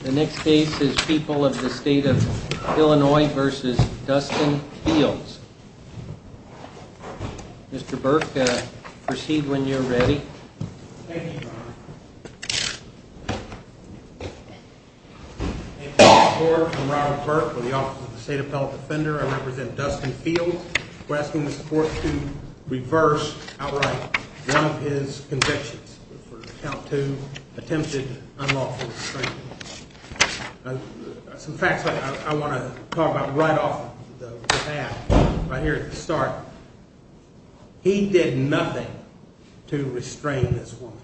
The next case is People of the State of Illinois v. Dustin Fields Mr. Burke, proceed when you're ready Thank you, Your Honor I'm Robert Burke with the Office of the State Appellate Defender. I represent Dustin Fields We're asking the court to reverse outright one of his convictions for count two, attempted unlawful restraint Some facts I want to talk about right off the bat, right here at the start He did nothing to restrain this woman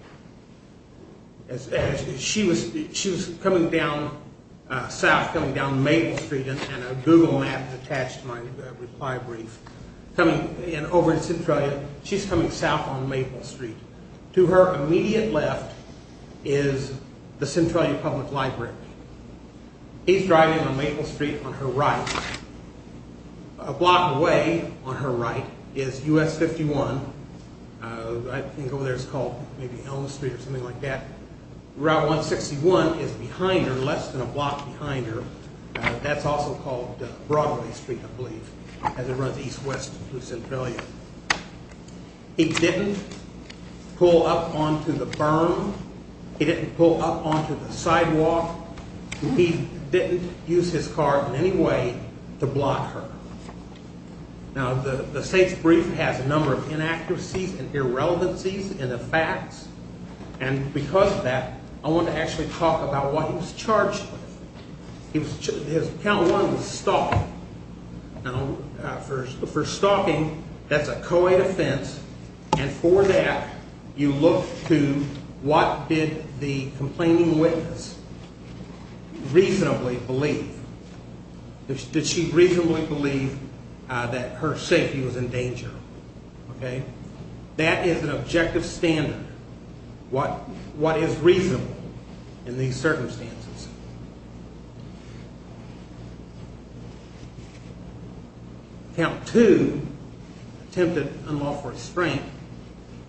She was coming down south, coming down Maple Street and a Google map attached to my reply brief and over in Centralia, she's coming south on Maple Street To her immediate left is the Centralia Public Library He's driving on Maple Street on her right A block away on her right is US 51 I think over there it's called maybe Elm Street or something like that Route 161 is behind her, less than a block behind her That's also called Broadway Street, I believe, as it runs east-west through Centralia He didn't pull up onto the berm He didn't pull up onto the sidewalk He didn't use his car in any way to block her Now, the state's brief has a number of inaccuracies and irrelevancies in the facts and because of that, I want to actually talk about what he was charged with Count one was stalking For stalking, that's a co-ed offense and for that, you look to what did the complaining witness reasonably believe Did she reasonably believe that her safety was in danger? That is an objective standard, what is reasonable in these circumstances Count two, attempted unlawful restraint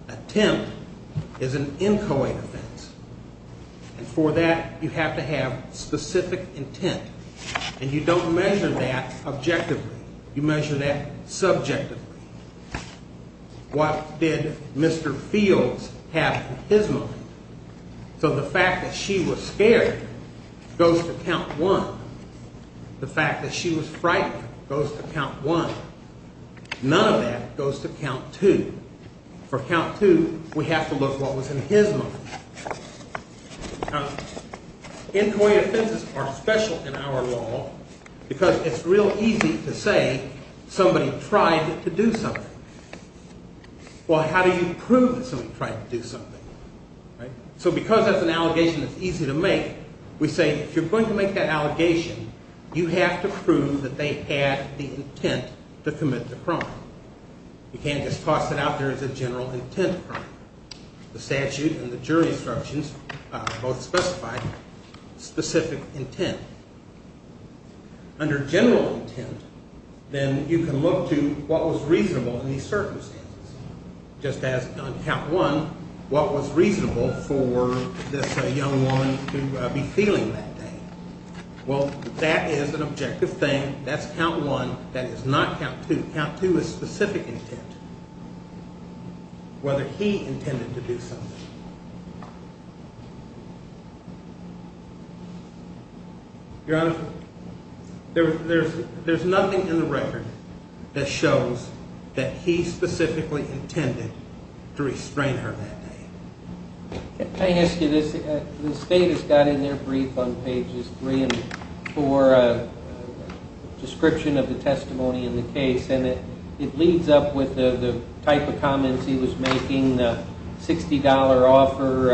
Attempt is an in-co-ed offense and for that, you have to have specific intent and you don't measure that objectively, you measure that subjectively What did Mr. Fields have in his mind? So the fact that she was scared goes to count one The fact that she was frightened goes to count one None of that goes to count two For count two, we have to look at what was in his mind Now, in-co-ed offenses are special in our law because it's real easy to say somebody tried to do something Well, how do you prove that somebody tried to do something? So because that's an allegation that's easy to make We say, if you're going to make that allegation, you have to prove that they had the intent to commit the crime You can't just toss it out there as a general intent crime The statute and the jury instructions both specify specific intent Under general intent, then you can look to what was reasonable in these circumstances Just as on count one, what was reasonable for this young woman to be feeling that day Well, that is an objective thing, that's count one, that is not count two Count two is specific intent, whether he intended to do something Your Honor, there's nothing in the record that shows that he specifically intended to restrain her that day Can I ask you this? The state has got in their brief on pages three and four a description of the testimony in the case and it leads up with the type of comments he was making $60 off her,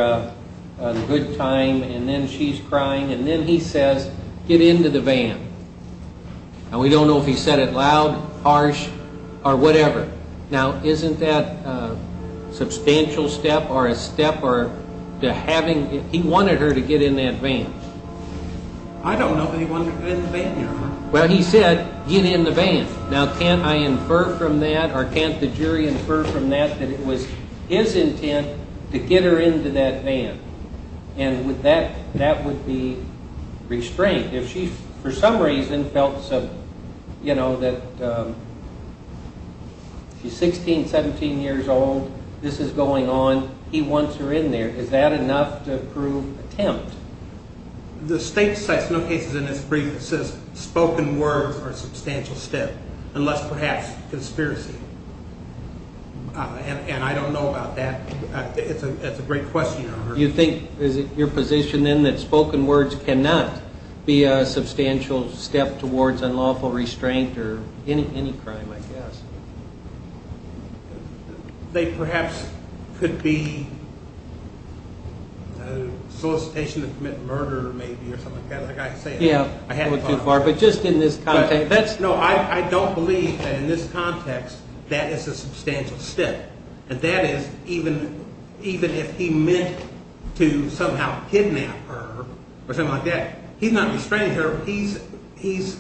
a good time, and then she's crying and then he says, get into the van and we don't know if he said it loud, harsh, or whatever Now, isn't that a substantial step or a step to having, he wanted her to get in that van I don't know if he wanted her to get in the van, Your Honor Well, he said, get in the van Now, can't I infer from that, or can't the jury infer from that, that it was his intent to get her into that van and that would be restraint If she, for some reason, felt that she's 16, 17 years old, this is going on, he wants her in there Is that enough to prove attempt? The state cites no cases in its brief that says spoken words are a substantial step unless perhaps conspiracy and I don't know about that, it's a great question, Your Honor You think, is it your position then that spoken words cannot be a substantial step towards unlawful restraint or any crime, I guess They perhaps could be solicitation to commit murder, maybe, or something like that, like I said Yeah, it went too far, but just in this context No, I don't believe that in this context, that is a substantial step and that is, even if he meant to somehow kidnap her or something like that he's not restraining her, he's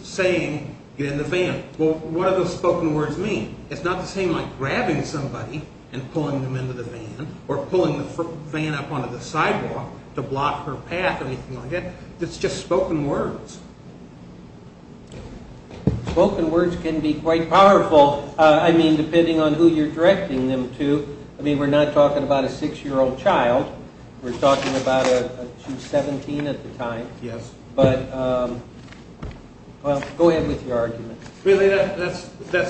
saying, get in the van Well, what do those spoken words mean? It's not the same like grabbing somebody and pulling them into the van or pulling the van up onto the sidewalk to block her path or anything like that It's just spoken words Spoken words can be quite powerful, I mean, depending on who you're directing them to I mean, we're not talking about a 6-year-old child, we're talking about a 17 at the time Yes But, well, go ahead with your argument Really, that's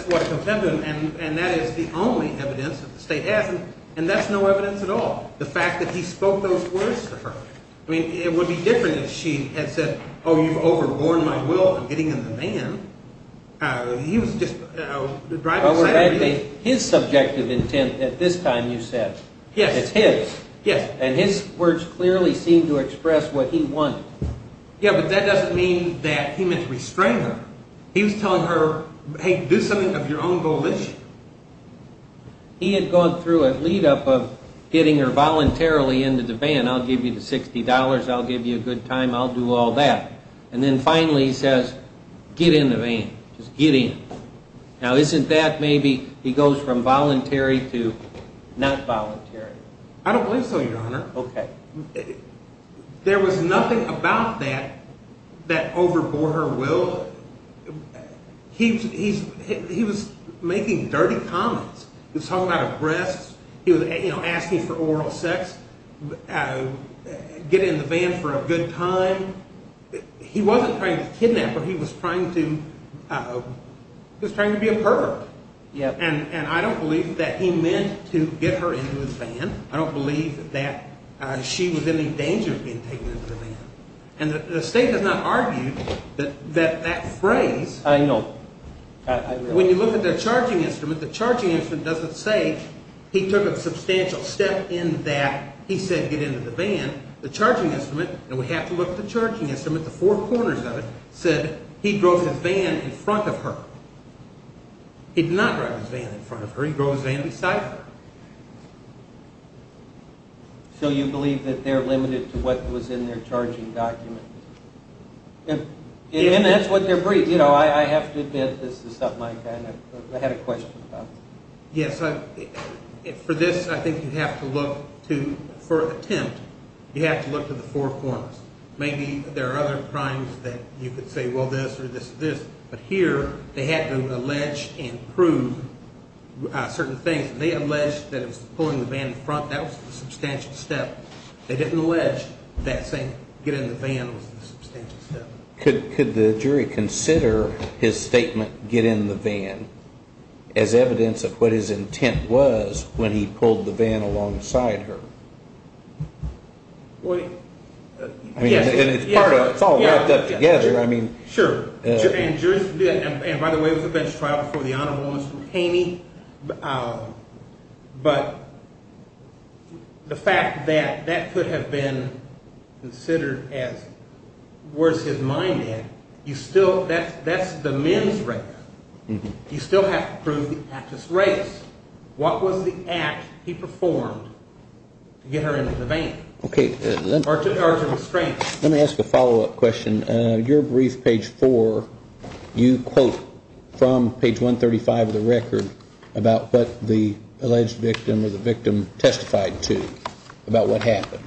what I contend with, and that is the only evidence that the state has and that's no evidence at all, the fact that he spoke those words to her I mean, it would be different if she had said, oh, you've overborne my will, I'm getting in the van He was just driving aside His subjective intent at this time, you said Yes It's his Yes And his words clearly seem to express what he wanted Yeah, but that doesn't mean that he meant to restrain her He was telling her, hey, do something of your own volition He had gone through a lead-up of getting her voluntarily into the van I'll give you the $60, I'll give you a good time, I'll do all that And then finally he says, get in the van, just get in Now, isn't that maybe, he goes from voluntary to not voluntary I don't believe so, Your Honor Okay There was nothing about that that overbore her will He was making dirty comments He was talking about her breasts, he was asking for oral sex Get in the van for a good time He wasn't trying to kidnap her, he was trying to be a pervert And I don't believe that he meant to get her into his van I don't believe that she was in any danger of being taken into the van And the State has not argued that that phrase I know When you look at the charging instrument, the charging instrument doesn't say He took a substantial step in that he said get into the van The charging instrument, and we have to look at the charging instrument, the four corners of it Said he drove his van in front of her He did not drive his van in front of her, he drove his van beside her So you believe that they're limited to what was in their charging document? And that's what they're briefed, you know, I have to admit this is something I kind of, I had a question about Yes, for this I think you have to look to, for attempt, you have to look to the four corners Maybe there are other crimes that you could say well this or this or this But here they had to allege and prove certain things They allege that he was pulling the van in front, that was a substantial step They didn't allege that saying get in the van was a substantial step Could the jury consider his statement, get in the van, as evidence of what his intent was when he pulled the van alongside her? Well, yes It's all wrapped up together Sure, and by the way it was a bench trial before the Honorable Mr. Haney But the fact that that could have been considered as, where's his mind at? You still, that's the men's race, you still have to prove the actress' race What was the act he performed to get her in the van? Okay Or to the extent Let me ask a follow up question Your brief page four, you quote from page 135 of the record about what the alleged victim or the victim testified to About what happened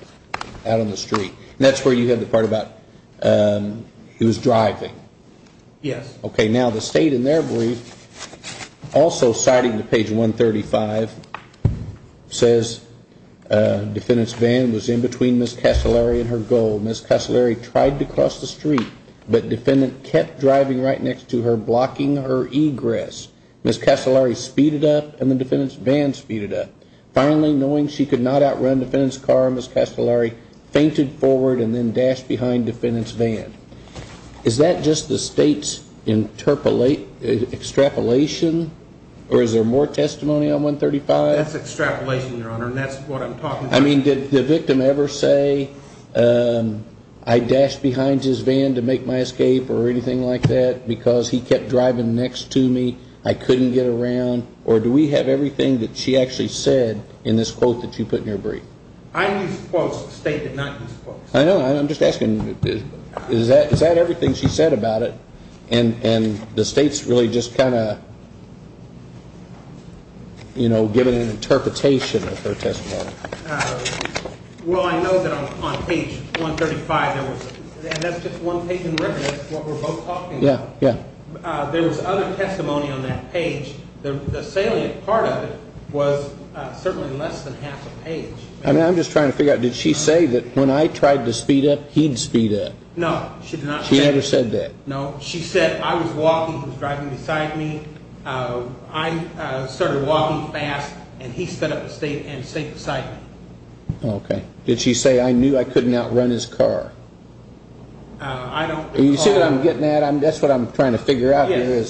out on the street And that's where you had the part about he was driving Yes Okay, now the state in their brief also citing the page 135 Says defendant's van was in between Ms. Castellari and her goal Ms. Castellari tried to cross the street but defendant kept driving right next to her blocking her egress Ms. Castellari speeded up and the defendant's van speeded up Finally, knowing she could not outrun defendant's car, Ms. Castellari fainted forward and then dashed behind defendant's van Is that just the state's extrapolation or is there more testimony on 135? That's extrapolation, Your Honor, and that's what I'm talking about I mean did the victim ever say I dashed behind his van to make my escape or anything like that Because he kept driving next to me, I couldn't get around Or do we have everything that she actually said in this quote that you put in your brief? I used quotes, the state did not use quotes I know, I'm just asking is that everything she said about it And the state's really just kind of, you know, giving an interpretation of her testimony Well I know that on page 135, and that's just one taken record, that's what we're both talking about There was other testimony on that page, the salient part of it was certainly less than half a page I'm just trying to figure out, did she say that when I tried to speed up, he'd speed up? No, she did not She never said that No, she said I was walking, he was driving beside me I started walking fast and he sped up and stayed beside me Okay, did she say I knew I couldn't outrun his car? I don't recall You see what I'm getting at, that's what I'm trying to figure out here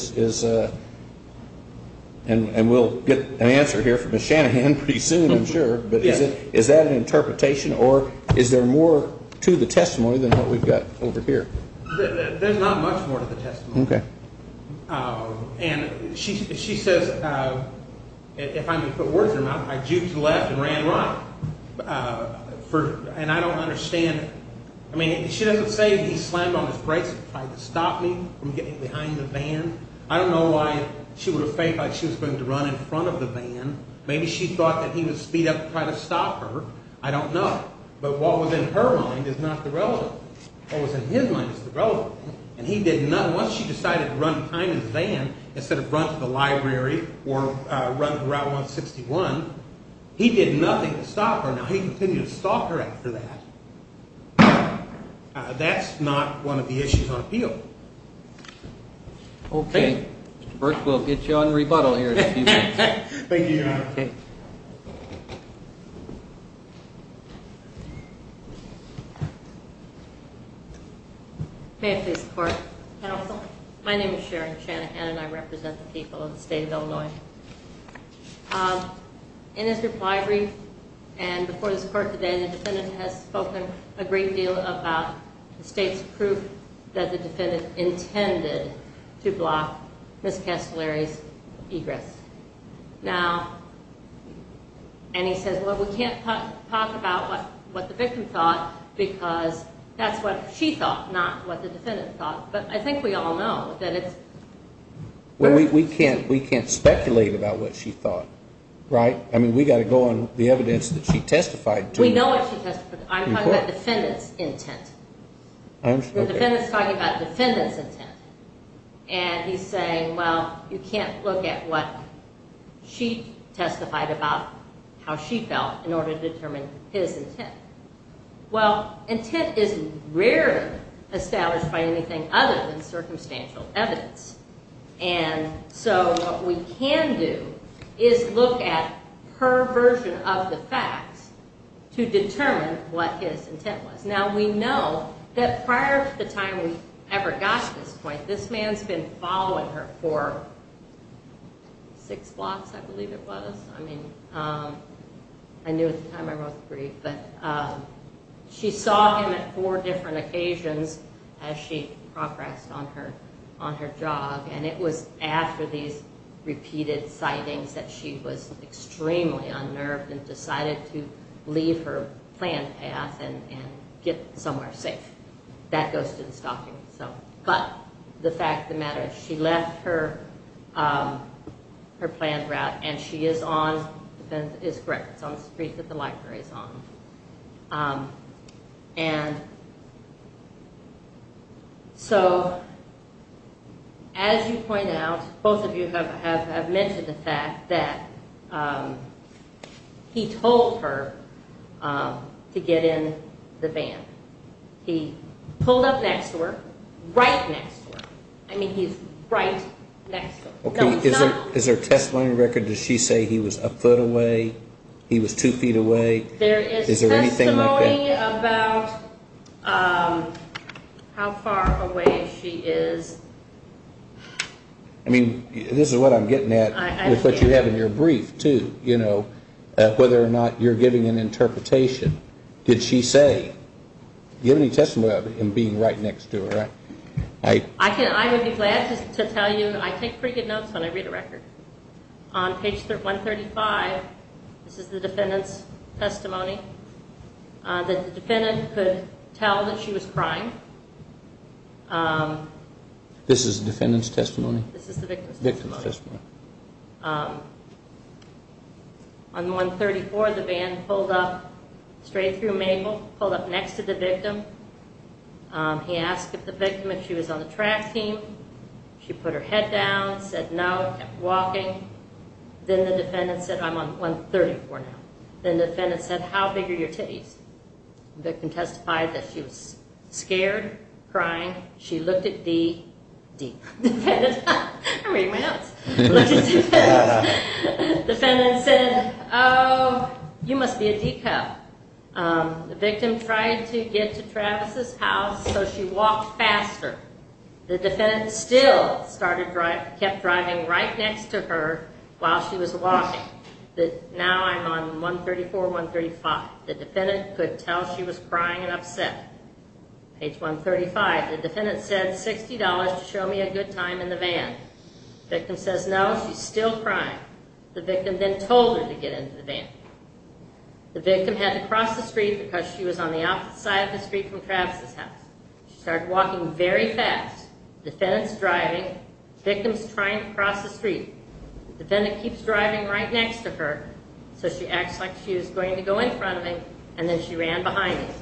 And we'll get an answer here from Ms. Shanahan pretty soon I'm sure But is that an interpretation or is there more to the testimony than what we've got over here? There's not much more to the testimony And she says, if I'm to put words in her mouth, I juked left and ran right And I don't understand, I mean she doesn't say he slammed on his brakes and tried to stop me from getting behind the van I don't know why she would have faked like she was going to run in front of the van Maybe she thought that he would speed up to try to stop her, I don't know But what was in her mind is not the relevant thing, what was in his mind is the relevant thing And he did nothing, once she decided to run behind the van instead of run to the library or run Route 161 He did nothing to stop her, now he continued to stop her after that That's not one of the issues on appeal Okay, first we'll get you on rebuttal here in a few minutes Thank you Your Honor May I please report? Counsel, my name is Sharon Shanahan and I represent the people of the state of Illinois In his reply brief and before this court today, the defendant has spoken a great deal about the state's proof that the defendant intended to block Ms. Castellari's egress Now, and he says, well we can't talk about what the victim thought because that's what she thought, not what the defendant thought But I think we all know that it's Well we can't speculate about what she thought, right? I mean we got to go on the evidence that she testified to We know what she testified to, I'm talking about the defendant's intent The defendant's talking about the defendant's intent And he's saying, well you can't look at what she testified about, how she felt, in order to determine his intent Well, intent is rarely established by anything other than circumstantial evidence And so what we can do is look at her version of the facts to determine what his intent was Now we know that prior to the time we ever got to this point, this man's been following her for six blocks I believe it was I mean, I knew at the time I wrote the brief But she saw him at four different occasions as she progressed on her job And it was after these repeated sightings that she was extremely unnerved and decided to leave her planned path and get somewhere safe That goes to the stalking itself But the fact of the matter is she left her planned route and she is on, the defendant is correct, it's on the street that the library is on And so, as you point out, both of you have mentioned the fact that he told her to get in the van He pulled up next to her, right next to her, I mean he's right next to her Is there a testimony record? Does she say he was a foot away? He was two feet away? There is testimony about how far away she is I mean, this is what I'm getting at with what you have in your brief too, you know, whether or not you're giving an interpretation Did she say, do you have any testimony about him being right next to her? I would be glad to tell you, I take pretty good notes when I read a record On page 135, this is the defendant's testimony, the defendant could tell that she was crying This is the defendant's testimony? This is the victim's testimony On 134, the van pulled up straight through Mabel, pulled up next to the victim He asked the victim if she was on the track team She put her head down, said no, kept walking Then the defendant said, I'm on 134 now Then the defendant said, how big are your titties? The victim testified that she was scared, crying, she looked at the defendant I'm reading my notes The defendant said, oh, you must be a decoy The victim tried to get to Travis' house so she walked faster The defendant still kept driving right next to her while she was walking Now I'm on 134, 135 The defendant could tell she was crying and upset Page 135, the defendant said $60 to show me a good time in the van The victim says no, she's still crying The victim then told her to get into the van The victim had to cross the street because she was on the outside of the street from Travis' house She started walking very fast The defendant's driving, the victim's trying to cross the street The defendant keeps driving right next to her So she acts like she was going to go in front of him And then she ran behind him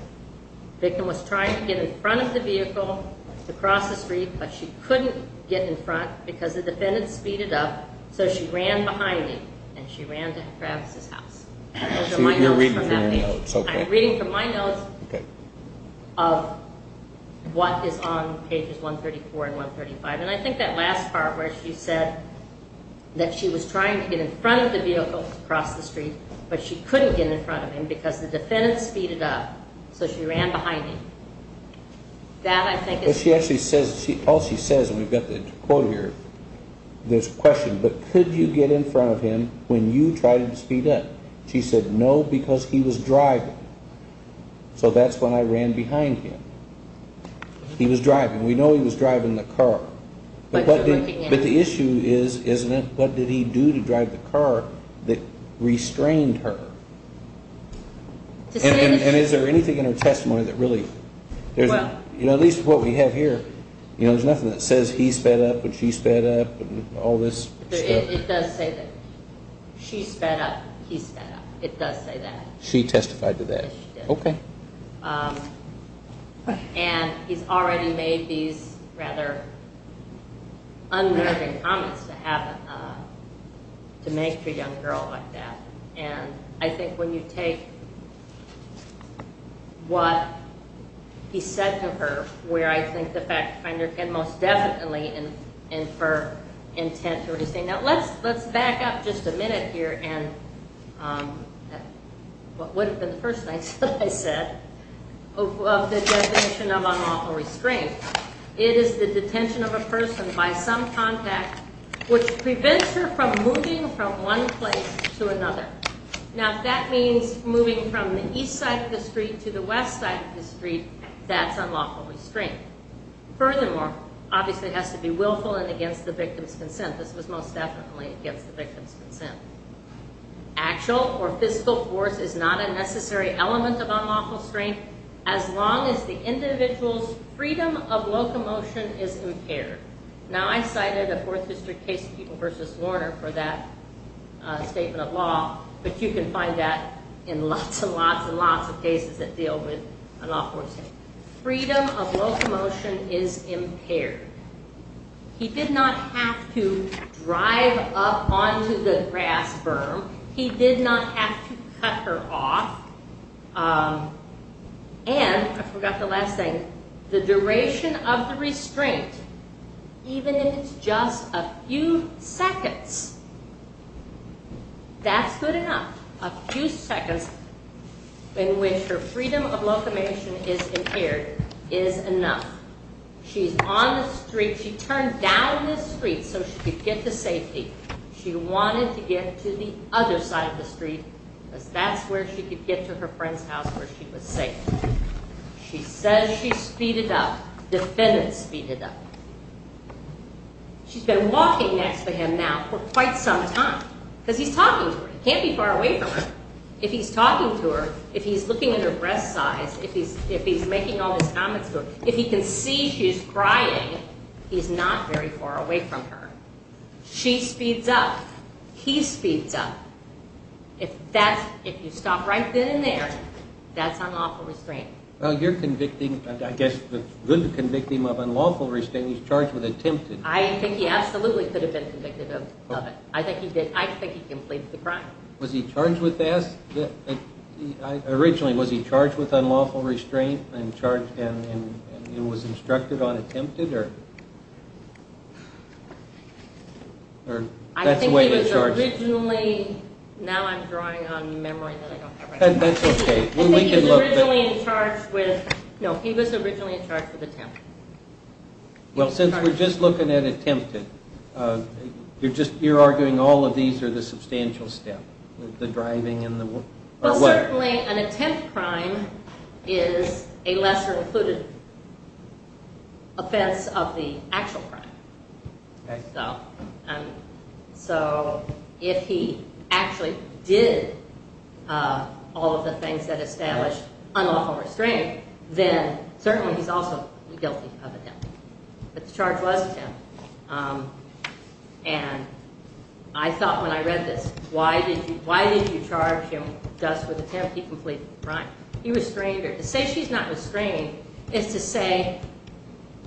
The victim was trying to get in front of the vehicle to cross the street But she couldn't get in front because the defendant speeded up So she ran behind him and she ran to Travis' house I'm reading from my notes of what is on pages 134 and 135 And I think that last part where she said that she was trying to get in front of the vehicle to cross the street But she couldn't get in front of him because the defendant speeded up So she ran behind him All she says, and we've got the quote here There's a question, but could you get in front of him when you tried to speed up? She said no because he was driving So that's when I ran behind him He was driving, we know he was driving the car But the issue is, what did he do to drive the car that restrained her? And is there anything in her testimony that really... At least what we have here, there's nothing that says he sped up or she sped up It does say that she sped up, he sped up It does say that She testified to that And he's already made these rather unnerving comments to make to a young girl like that And I think when you take what he said to her Where I think the fact finder can most definitely infer intent to what he's saying Now let's back up just a minute here What would have been the first thing I said Of the definition of unlawful restraint It is the detention of a person by some contact Which prevents her from moving from one place to another Now if that means moving from the east side of the street to the west side of the street That's unlawful restraint Furthermore, obviously it has to be willful and against the victim's consent This was most definitely against the victim's consent Actual or physical force is not a necessary element of unlawful restraint As long as the individual's freedom of locomotion is impaired Now I cited a 4th district case of People v. Lorner for that statement of law But you can find that in lots and lots and lots of cases that deal with unlawful restraint Freedom of locomotion is impaired He did not have to drive up onto the grass berm He did not have to cut her off And, I forgot the last thing The duration of the restraint, even if it's just a few seconds That's good enough A few seconds in which her freedom of locomotion is impaired is enough She's on the street, she turned down the street so she could get to safety She wanted to get to the other side of the street Because that's where she could get to her friend's house where she was safe She says she's speeded up, defendant speeded up She's been walking next to him now for quite some time Because he's talking to her, he can't be far away from her If he's talking to her, if he's looking at her breast size If he's making all these comments to her If he can see she's crying, he's not very far away from her She speeds up, he speeds up If you stop right then and there, that's unlawful restraint You're convicting, I guess it's good to convict him of unlawful restraint He's charged with attempted I think he absolutely could have been convicted of it I think he did, I think he completed the crime Was he charged with that? Originally, was he charged with unlawful restraint and was instructed on attempted? I think he was originally, now I'm drawing on memory That's okay, we can look at that No, he was originally charged with attempted Well, since we're just looking at attempted You're arguing all of these are the substantial step The driving and the what? Well, certainly an attempted crime is a lesser included offense of the actual crime So, if he actually did all of the things that established unlawful restraint Then certainly he's also guilty of attempted But the charge was attempted And I thought when I read this Why did you charge him thus with attempted complete crime? He restrained her To say she's not restrained is to say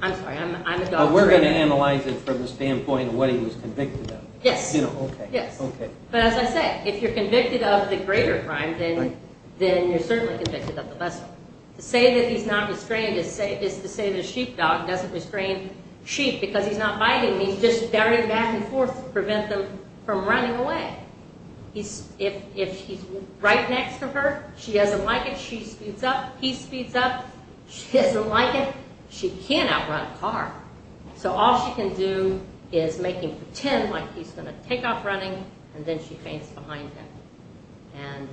I'm sorry, I'm a dog trainer But we're going to analyze it from the standpoint of what he was convicted of Yes Okay But as I said, if you're convicted of the greater crime Then you're certainly convicted of the lesser To say that he's not restrained is to say that a sheepdog doesn't restrain sheep Because he's not biting He's just daring back and forth to prevent them from running away If he's right next to her She doesn't like it She speeds up He speeds up She doesn't like it She can't outrun a car So all she can do is make him pretend like he's going to take off running And then she paints behind him And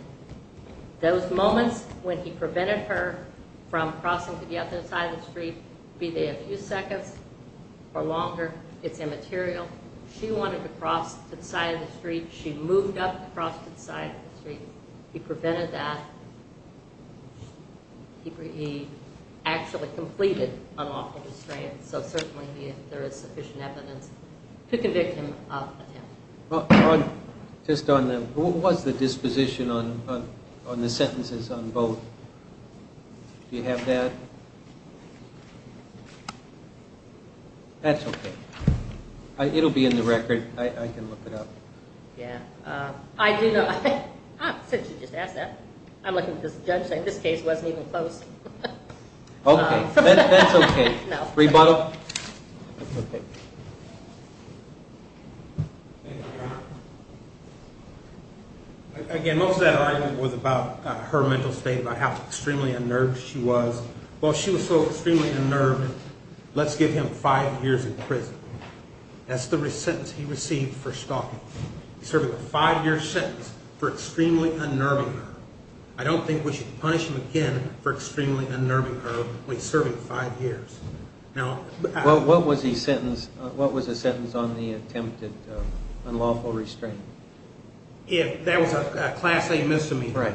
those moments when he prevented her from crossing to the other side of the street Be they a few seconds or longer It's immaterial She wanted to cross to the side of the street She moved up to cross to the side of the street He prevented that He actually completed unlawful restraint So certainly there is sufficient evidence to convict him of attempted Just on the What was the disposition on the sentences on both? Do you have that? That's okay It'll be in the record I can look it up Yeah I do know Since you just asked that I'm looking at this judge saying this case wasn't even close Okay That's okay Rebuttal That's okay Again most of that argument was about her mental state About how extremely unnerved she was Well she was so extremely unnerved Let's give him five years in prison That's the sentence he received for stalking He's serving a five year sentence for extremely unnerving her I don't think we should punish him again for extremely unnerving her When he's serving five years What was the sentence on the attempted unlawful restraint? That was a class A misdemeanor Right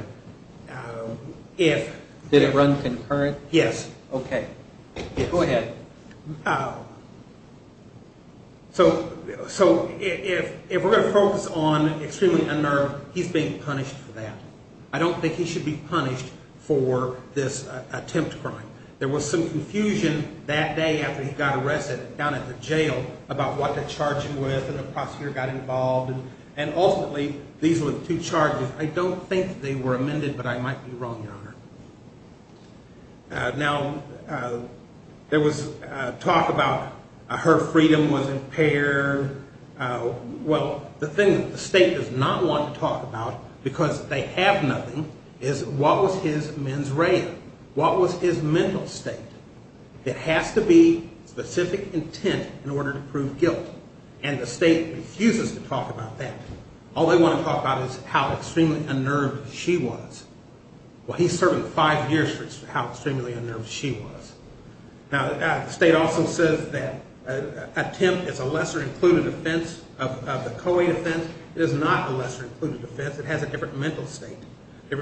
Did it run concurrent? Yes Okay Go ahead So if we're going to focus on extremely unnerved He's being punished for that I don't think he should be punished for this attempt crime There was some confusion that day after he got arrested down at the jail About what to charge him with and the prosecutor got involved And ultimately these were the two charges I don't think they were amended but I might be wrong your honor Now there was talk about her freedom was impaired Well the thing that the state does not want to talk about Because they have nothing Is what was his mens rea What was his mental state That has to be specific intent in order to prove guilt And the state refuses to talk about that All they want to talk about is how extremely unnerved she was Well he's serving five years for how extremely unnerved she was Now the state also says that Attempt is a lesser included offense of the co-aid offense It is not a lesser included offense It has a different mental state It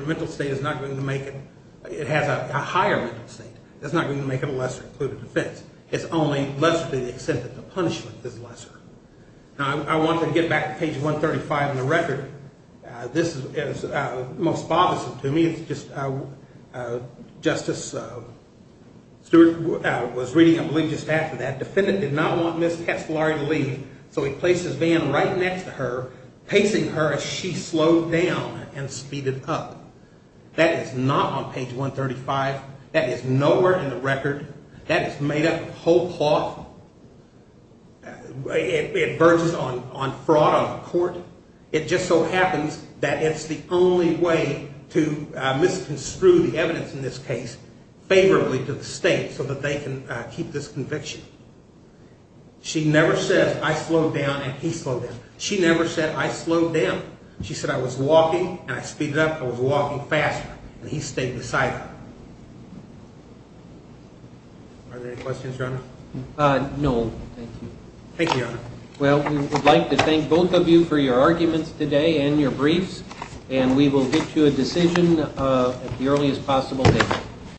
has a higher mental state It's not going to make it a lesser included offense It's only lesser to the extent that the punishment is lesser Now I want to get back to page 135 in the record This is most bothersome to me Justice Stewart was reading I believe just after that Defendant did not want Ms. Testolari to leave So he placed his van right next to her Pacing her as she slowed down and speeded up That is not on page 135 That is nowhere in the record That is made up of whole cloth It verges on fraud on the court It just so happens that it's the only way To misconstrue the evidence in this case Favorably to the state so that they can keep this conviction She never says I slowed down and he slowed down She never said I slowed down She said I was walking and I speeded up I was walking faster and he stayed beside her Are there any questions, Your Honor? No, thank you Thank you, Your Honor Well, we would like to thank both of you for your arguments today And your briefs And we will get to a decision at the earliest possible date